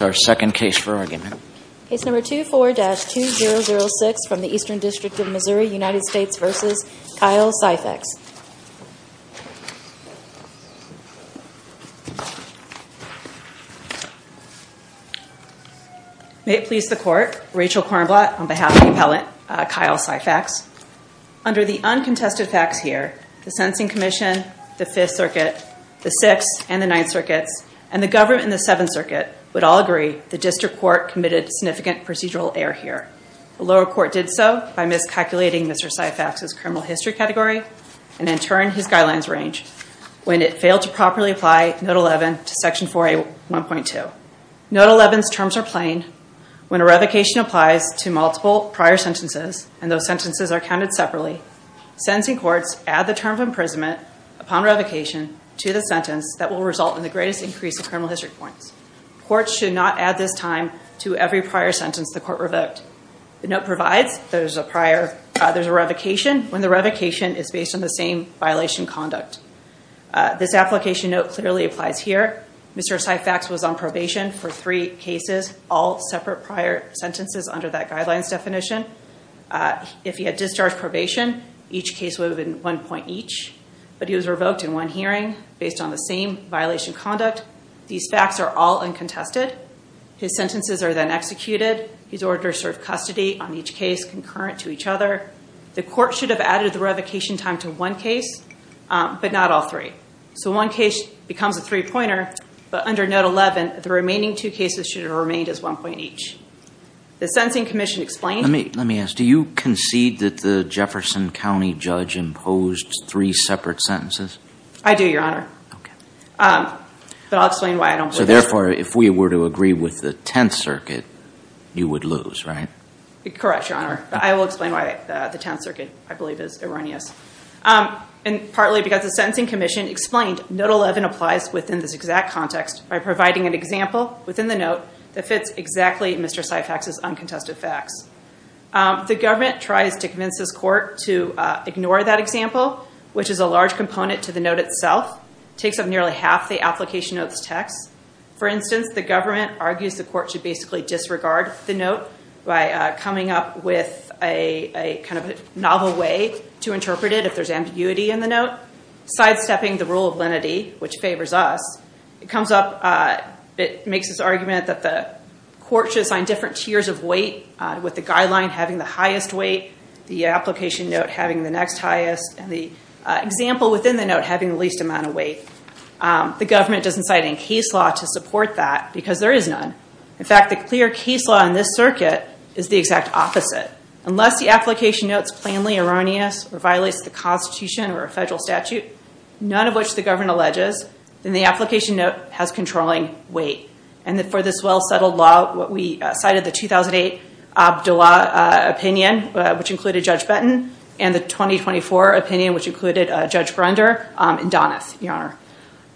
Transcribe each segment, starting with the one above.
May it please the Court, Rachel Kornblatt on behalf of the Appellant, Kyle Syphax. Under the uncontested facts here, the Sentencing Commission, the Fifth Circuit, the Sixth and Ninth Circuits, and the government in the Seventh Circuit would all agree the district court committed significant procedural error here. The lower court did so by miscalculating Mr. Syphax's criminal history category, and in turn, his guidelines range, when it failed to properly apply Note 11 to Section 4A1.2. Note 11's terms are plain. When a revocation applies to multiple prior sentences, and those sentences are counted separately, sentencing courts add the term of imprisonment upon revocation to the sentence that will result in the greatest increase in criminal history points. Courts should not add this time to every prior sentence the court revoked. The note provides there's a revocation when the revocation is based on the same violation conduct. This application note clearly applies here. Mr. Syphax was on probation for three cases, all separate prior sentences under that guidelines definition. If he had discharged probation, each case would have been one point each, but he was revoked in one hearing based on the same violation conduct. These facts are all uncontested. His sentences are then executed. His orders serve custody on each case concurrent to each other. The court should have added the revocation time to one case, but not all three. So one case becomes a three-pointer, but under Note 11, the remaining two cases should have remained as one point each. The Sentencing Commission explained... Let me ask, do you concede that the Jefferson County judge imposed three separate sentences? I do, Your Honor. But I'll explain why I don't believe... So therefore, if we were to agree with the Tenth Circuit, you would lose, right? Correct, Your Honor. I will explain why the Tenth Circuit, I believe, is erroneous. And partly because the Sentencing Commission explained Note 11 applies within this exact context by providing an example within the note that fits exactly Mr. Syphax's uncontested facts. The government tries to convince this court to ignore that example, which is a large component to the note itself. It takes up nearly half the application of this text. For instance, the government argues the court should basically disregard the note by coming up with a novel way to interpret it if there's ambiguity in the note, sidestepping the rule of lenity, which favors us. It comes up... It makes this argument that the court should assign different tiers of weight, with the guideline having the highest weight, the application note having the next highest, and the example within the note having the least amount of weight. The government doesn't cite any case law to support that because there is none. In fact, the clear case law in this circuit is the exact opposite. Unless the application note is plainly erroneous or violates the Constitution or a federal statute, none of which the government alleges, then the application note has controlling weight. And that for this well-settled law, what we cited the 2008 Abdullah opinion, which included Judge Benton, and the 2024 opinion, which included Judge Grunder and Doneth, Your Honor.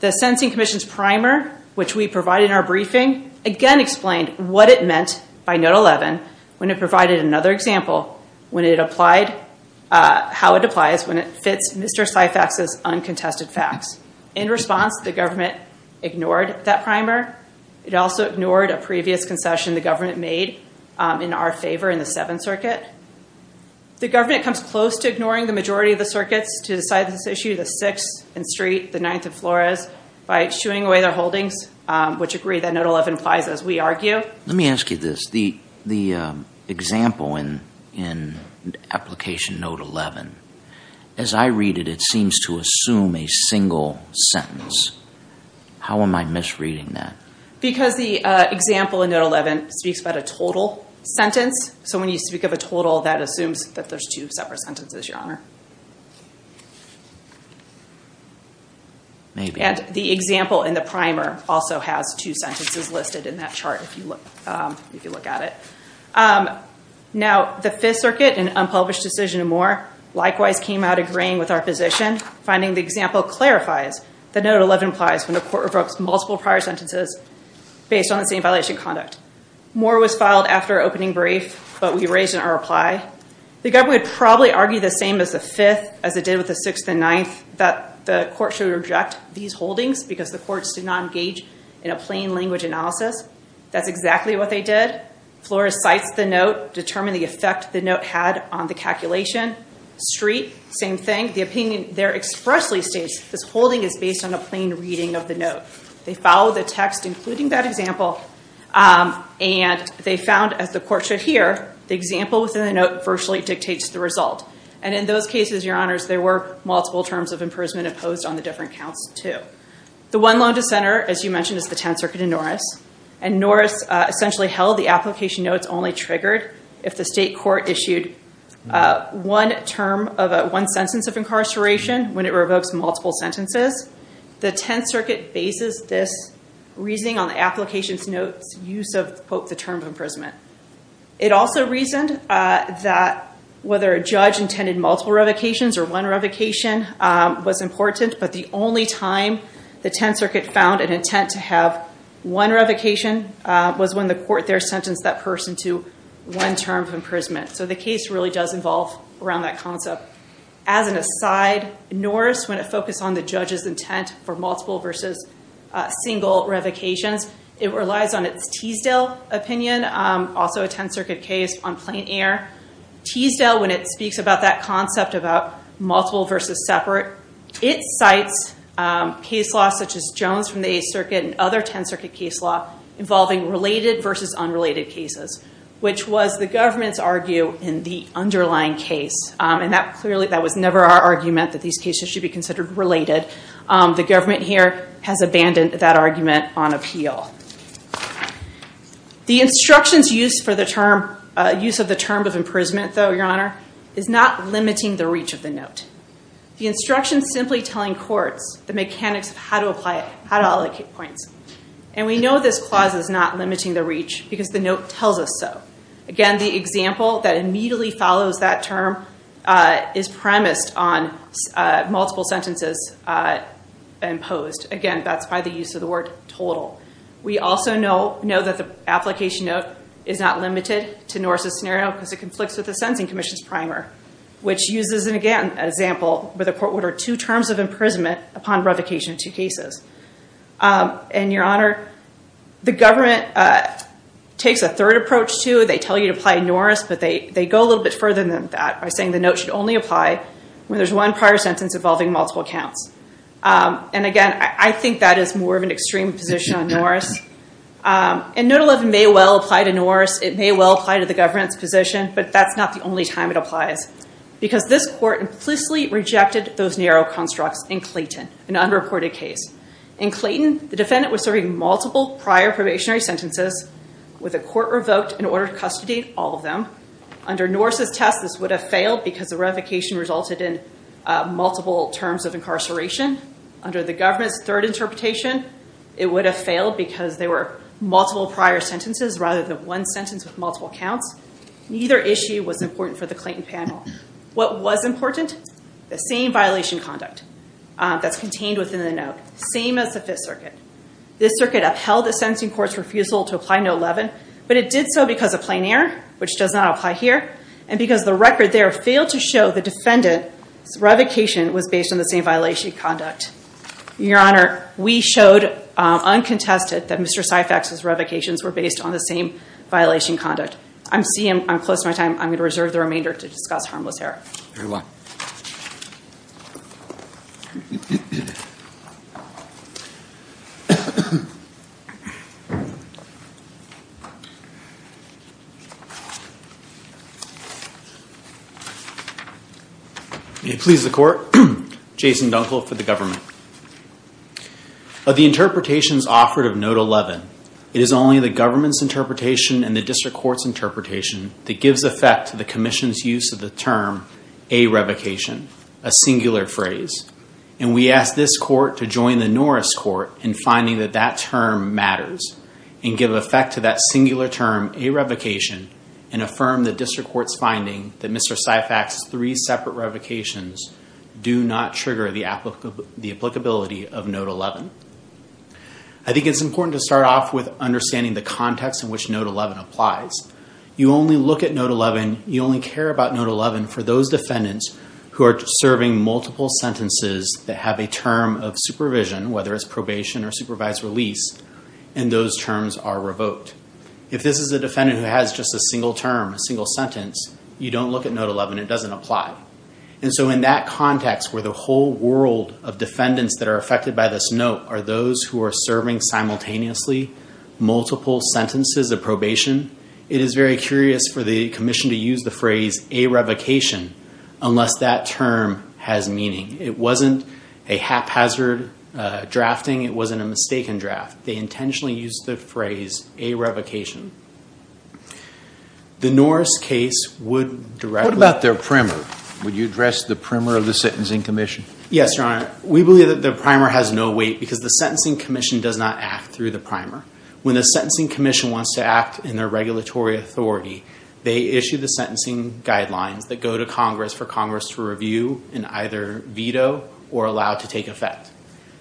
The Sentencing Commission's primer, which we provided in our briefing, again explained what it meant by Note 11 when it provided another example, how it applies when it fits Mr. Syphax's uncontested facts. In response, the government ignored that primer. It also ignored a previous concession the government made in our favor in the Seventh Circuit. The government comes close to ignoring the majority of the circuits to decide this issue, the Sixth and Street, the Ninth and Flores, by shooing away their holdings, which agree that Note 11 applies as we argue. Let me ask you this. The example in application Note 11, as I read it, it seems to assume a single sentence. How am I misreading that? Because the example in Note 11 speaks about a total sentence. So when you speak of a total, that assumes that there's two separate sentences, Your Honor. Maybe. And the example in the primer also has two sentences listed in that chart, if you look at it. Now, the Fifth Circuit, an unpublished decision in Moore, likewise came out agreeing with our position, finding the example clarifies that Note 11 applies when a court revokes multiple prior sentences based on the same violation of conduct. Moore was filed after opening brief, but we raised it in our reply. The government would probably argue the same as the Fifth, as it did with the Sixth and Ninth, that the court should reject these holdings because the courts did not engage in a plain language analysis. That's exactly what they did. Flores cites the note, determined the effect the note had on the calculation. Street, same thing. The opinion there expressly states this holding is based on a plain reading of the note. They followed the text, including that example, and they found, as the court should hear, the example within the note virtually dictates the result. And in those cases, your honors, there were multiple terms of imprisonment imposed on the different counts, too. The one loan to center, as you mentioned, is the Tenth Circuit and Norris. And Norris essentially held the application notes only triggered if the state court issued one term of one sentence of incarceration when it revokes multiple sentences. The Tenth Circuit bases this reasoning on the application notes use of the term of imprisonment. It also reasoned that whether a judge intended multiple revocations or one revocation was important, but the only time the Tenth Circuit found an intent to have one revocation was when the court there sentenced that person to one term of imprisonment. So the case really does involve around that concept. As an aside, Norris, when it focused on the judge's intent for multiple versus single revocations, it relies on its Teasdale opinion, also a Tenth Circuit case on plain air. Teasdale, when it speaks about that concept about multiple versus separate, it cites case laws such as Jones from the Eighth Circuit and other Tenth Circuit case law involving related versus unrelated cases, which was the government's argue in the underlying case. And that clearly, that was never our argument that these cases should be considered related. The government here has abandoned that argument on appeal. The instructions used for the term, use of the term of imprisonment, though, your honor, is not limiting the reach of the note. The instructions simply telling courts the mechanics of how to apply it, how to allocate points. And we know this clause is not limiting the reach because the note tells us so. Again, the example that immediately follows that term is premised on multiple sentences imposed. Again, that's by the use of the word total. We also know that the application note is not limited to Norris' scenario because it conflicts with the Sensing Commission's primer, which uses, again, an example where the court ordered two terms of imprisonment upon revocation of two cases. And your honor, the government takes a third approach, too. They tell you to apply Norris, but they go a little bit further than that by saying the note should only apply when there's one prior sentence involving multiple counts. And again, I think that is more of an extreme position on Norris. And note 11 may well apply to Norris. It may well apply to the government's position, but that's not the only time it applies because this court implicitly rejected those narrow constructs in Clayton, an unreported case. In Clayton, the defendant was serving multiple prior probationary sentences with a court revoked in order to custodiate all of them. Under Norris' test, this would have failed because the revocation resulted in multiple terms of incarceration. Under the government's third interpretation, it would have failed because there were multiple prior sentences rather than one sentence with multiple counts. Neither issue was important for the Clayton panel. What was important? The same violation conduct that's contained within the note. Same as the Fifth Circuit. This circuit upheld the sentencing court's refusal to apply note 11, but it did so because of plain error, which does not apply here, and because the record there failed to show the defendant's revocation was based on the same violation conduct. Your Honor, we showed uncontested that Mr. Syphax's revocations were based on the same violation conduct. I'm seeing I'm close to my time. I'm going to reserve the remainder to discuss harmless error. Very well. May it please the court. Jason Dunkel for the government. Of the interpretations offered of note 11, it is only the government's interpretation and the district court's interpretation that gives effect to the commission's use of the term, a revocation, a singular phrase. And we ask this court to join the Norris court in finding that that term matters and give effect to that singular term, a revocation, and affirm the district court's finding that Mr. Syphax's three separate revocations do not trigger the applicability of note 11. I think it's important to start off with understanding the context in which note 11 applies. You only look at note 11, you only care about note 11 for those defendants who are serving multiple sentences that have a term of supervision, whether it's probation or supervised release, and those terms are revoked. If this is a defendant who has just a single term, a single sentence, you don't look at note 11, it doesn't apply. And so in that context where the whole world of defendants that are affected by this note are those who are serving simultaneously multiple sentences of probation, it is very curious for the commission to use the phrase a revocation unless that term has meaning. It wasn't a haphazard drafting, it wasn't a mistaken draft. They intentionally used the phrase a revocation. The Norris case would directly- What about their primer? Would you address the primer of the Sentencing Commission? Yes, Your Honor. We believe that the primer has no weight because the Sentencing Commission does not act through the primer. When the Sentencing Commission wants to act in their regulatory authority, they issue the sentencing guidelines that go to Congress for Congress to review and either veto or allow to take effect.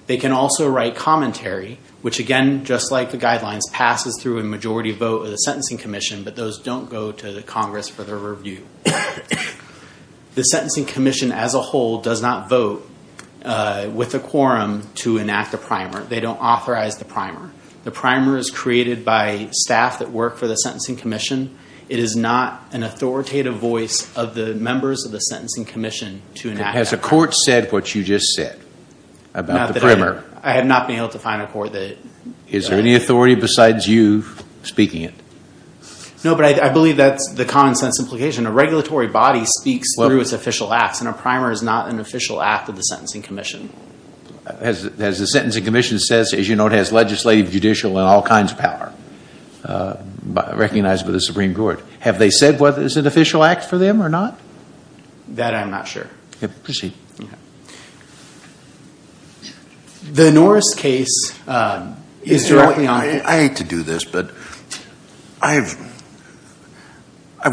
They can also write commentary, which again, just like the guidelines, passes through a majority vote of the Sentencing Commission, but those don't go to the Congress for their review. The Sentencing Commission as a whole does not vote with a quorum to enact a primer. They don't authorize the primer. The primer is created by staff that work for the Sentencing Commission. It is not an authoritative voice of the members of the Sentencing Commission to enact a primer. Has the court said what you just said about the primer? I have not been able to find a court that- Is there any authority besides you speaking it? No, but I believe that's the common sense implication. A regulatory body speaks through its official acts and a primer is not an official act of the Sentencing Commission. As the Sentencing Commission says, as you know, it has legislative, judicial, and all kinds of power recognized by the Supreme Court. Have they said what is an official act for them or not? That I'm not sure. Proceed. The Norris case is directly on- I hate to do this, but I've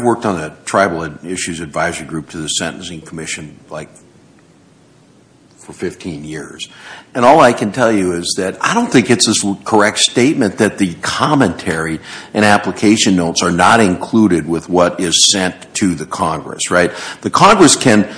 worked on a tribal issues advisory group to the Sentencing Commission for 15 years. And all I can tell you is that I don't think it's a correct statement that the commentary and application notes are not included with what is sent to the Congress, right? The Congress can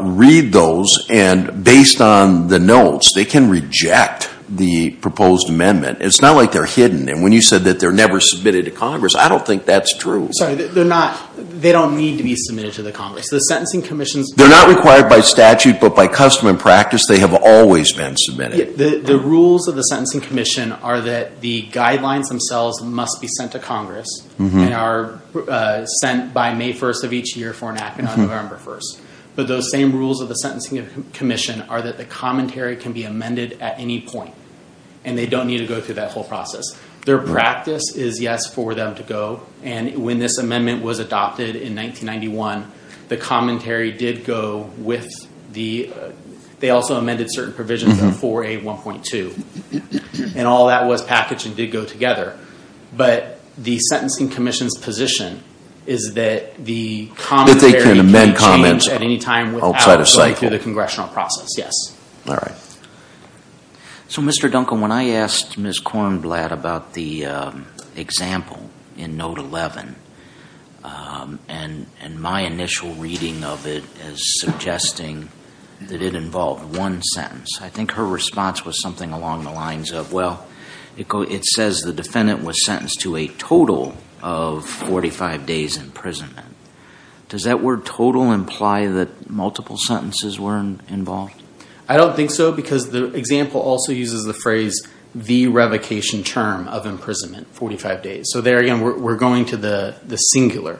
read those and based on the notes, they can reject the proposed amendment. It's not like they're hidden. And when you said that they're never submitted to Congress, I don't think that's true. Sorry, they're not- they don't need to be submitted to the Congress. The Sentencing Commission's- They're not required by statute, but by custom and practice, they have always been submitted. The rules of the Sentencing Commission are that the guidelines themselves must be sent to Congress and are sent by May 1st of each year for an act and on November 1st. But those same rules of the Sentencing Commission are that the commentary can be amended at any point. And they don't need to go through that whole process. Their practice is yes, for them to go. And when this amendment was adopted in 1991, the commentary did go with the- they also amended certain provisions of 4A1.2. And all that was packaged and did go together. But the Sentencing Commission's position is that the commentary can change at any time without going through the congressional process. All right. So, Mr. Duncan, when I asked Ms. Kornblatt about the example in Note 11 and my initial reading of it as suggesting that it involved one sentence, I think her response was something along the lines of, well, it says the defendant was sentenced to a total of 45 days imprisonment. Does that word total imply that multiple sentences were involved? I don't think so, because the example also uses the phrase, the revocation term of imprisonment, 45 days. So there again, we're going to the singular.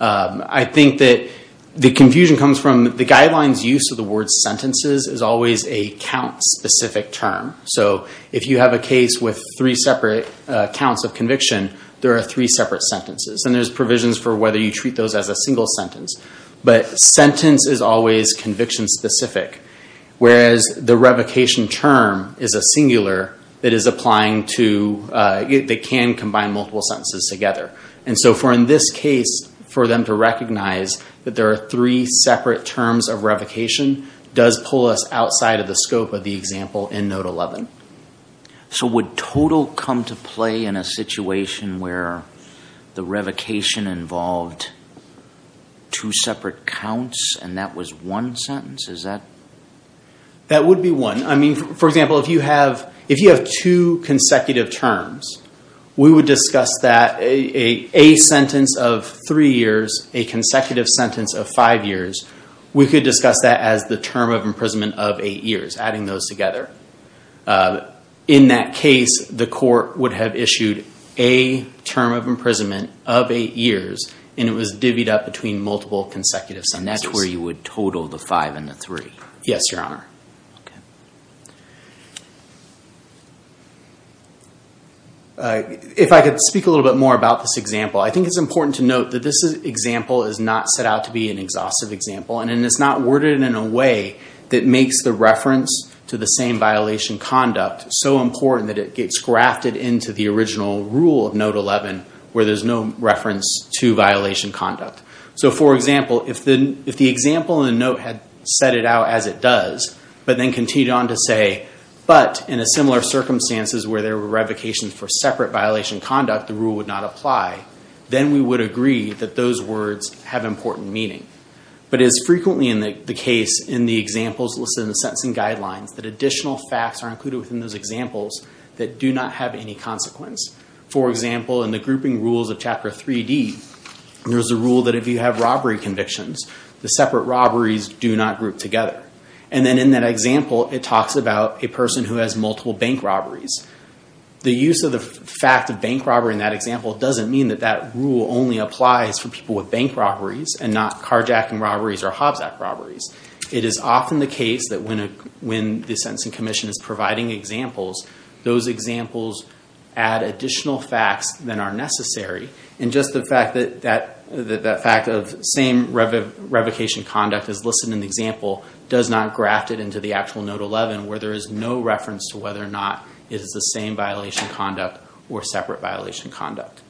I think that the confusion comes from the guidelines use of the word sentences is always a count-specific term. So if you have a case with three separate counts of conviction, there are three separate sentences. And there's provisions for whether you treat those as a single sentence. But sentence is always conviction-specific, whereas the revocation term is a singular that is applying to- that can combine multiple sentences together. And so for in this case, for them to recognize that there are three separate terms of revocation does pull us outside of the scope of the example in Note 11. So would total come to play in a situation where the revocation involved two separate counts and that was one sentence, is that? That would be one. I mean, for example, if you have two consecutive terms, we would discuss that a sentence of three years, a consecutive sentence of five years, we could discuss that as the term of imprisonment of eight years, adding those together. In that case, the court would have issued a term of imprisonment of eight years, and it was divvied up between multiple consecutive sentences. And that's where you would total the five and the three? Yes, Your Honor. Okay. If I could speak a little bit more about this example, I think it's important to note that this example is not set out to be an exhaustive example, and it's not worded in a way that makes the reference to the same violation conduct so important that it gets grafted into the original rule of Note 11, where there's no reference to violation conduct. So for example, if the example in the note had set it out as it does, but then continued on to say, but in a similar circumstances where there were revocations for separate violation conduct, the rule would not apply, then we would agree that those words have important meaning. But as frequently in the case in the examples listed in the sentencing guidelines that additional facts are included within those examples that do not have any consequence. For example, in the grouping rules of Chapter 3D, there's a rule that if you have robbery convictions, the separate robberies do not group together. And then in that example, it talks about a person who has multiple bank robberies. The use of the fact of bank robbery in that example doesn't mean that that rule only applies for people with bank robberies and not carjacking robberies or Hobbs Act robberies. It is often the case that when the Sentencing Commission is providing examples, those examples add additional facts than are necessary. And just the fact that that fact of same revocation conduct is listed in the example does not graft it into the actual Note 11 where there is no reference to whether or not it is the same violation conduct or separate violation conduct.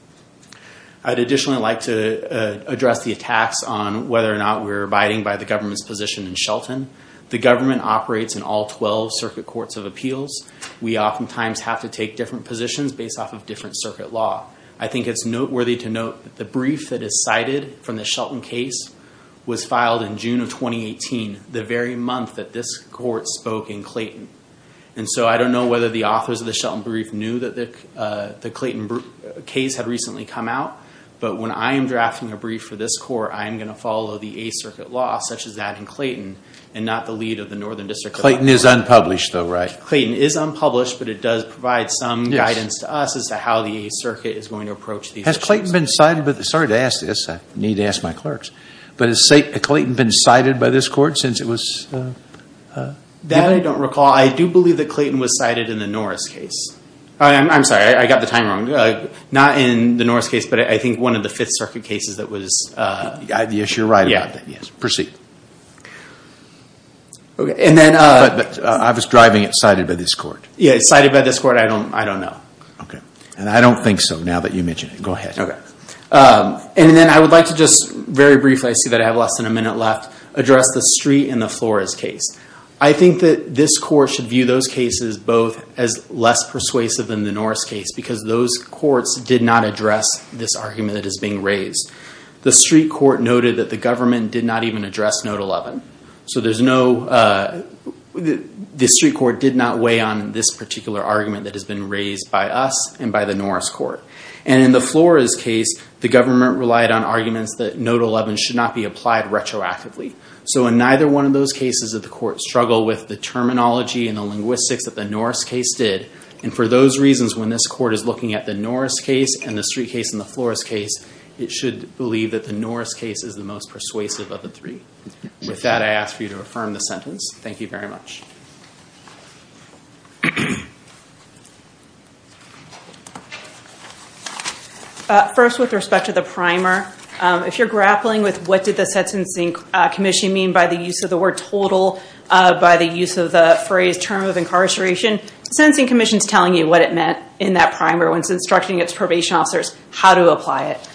I'd additionally like to address the attacks on whether or not we're abiding by the government's position in Shelton. The government operates in all 12 circuit courts of appeals. We oftentimes have to take different positions based off of different circuit law. I think it's noteworthy to note that the brief that is cited from the Shelton case was filed in June of 2018, the very month that this court spoke in Clayton. And so I don't know whether the authors of the Shelton brief knew that the Clayton case had recently come out. But when I am drafting a brief for this court, I am going to follow the Eighth Circuit law such as that in Clayton and not the lead of the Northern District Court. Clayton is unpublished though, right? Clayton is unpublished, but it does provide some guidance to us as to how the Eighth Circuit is going to approach these issues. Has Clayton been cited, sorry to ask this, I need to ask my clerks, but has Clayton been cited by this court since it was? That I don't recall. I do believe that Clayton was cited in the Norris case. I'm sorry, I got the time wrong. Not in the Norris case, but I think one of the Fifth Circuit cases that was. Yes, you're right about that, yes. Okay, and then. But I was driving it cited by this court. Yeah, it's cited by this court, I don't know. Okay, and I don't think so now that you mentioned it. Go ahead. Okay. And then I would like to just very briefly, I see that I have less than a minute left, address the Street and the Flores case. I think that this court should view those cases both as less persuasive than the Norris case because those courts did not address this argument that is being raised. The Street Court noted that the government did not even address Note 11. So there's no, the Street Court did not weigh on this particular argument that has been raised by us and by the Norris Court. And in the Flores case, the government relied on arguments that Note 11 should not be applied retroactively. So in neither one of those cases did the court struggle with the terminology and the linguistics that the Norris case did. And for those reasons, when this court is looking at the Norris case and the Street case and the Flores case, it should believe that the Norris case is the most persuasive of the three. With that, I ask for you to affirm the sentence. Thank you very much. First, with respect to the primer, if you're grappling with what did the Sentencing Commission mean by the use of the word total, by the use of the phrase term of incarceration, the Sentencing Commission's telling you what it meant in that primer when it's instructing its probation officers how to apply it.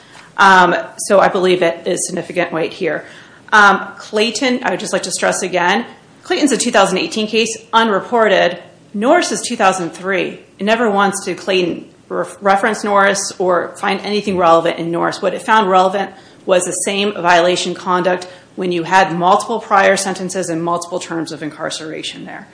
So I believe it is significant weight here. Clayton, I would just like to stress again, Clayton's a 2018 case, unreported. Norris is 2003. It never wants to, Clayton, reference Norris or find anything relevant in Norris. What it found relevant was the same violation conduct when you had multiple prior sentences and multiple terms of incarceration there.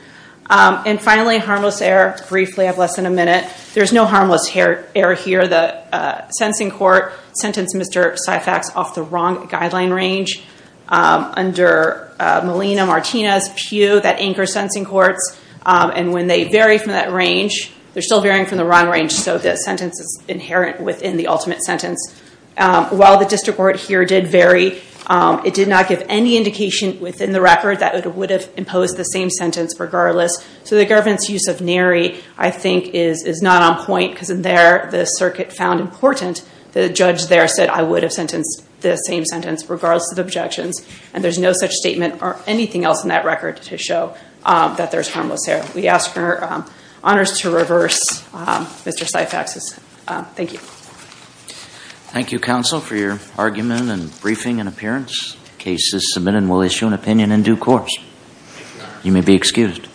And finally, harmless error. Briefly, I have less than a minute. There's no harmless error here. The sentencing court sentenced Mr. Syphax off the wrong guideline range under Molina, Martinez, Pugh, that anchor sentencing courts. And when they vary from that range, they're still varying from the wrong range, so the sentence is inherent within the ultimate sentence. While the district court here did vary, it did not give any indication within the record that it would have imposed the same sentence regardless. So the government's use of nary, I think, is not on point because in there, the circuit found important. The judge there said, I would have sentenced the same sentence regardless of the objections. And there's no such statement or anything else in that record to show that there's harmless error. We ask for honors to reverse Mr. Syphax's. Thank you. Thank you, counsel, for your argument and briefing and appearance. Case is submitted and we'll issue an opinion in due course. You may be excused.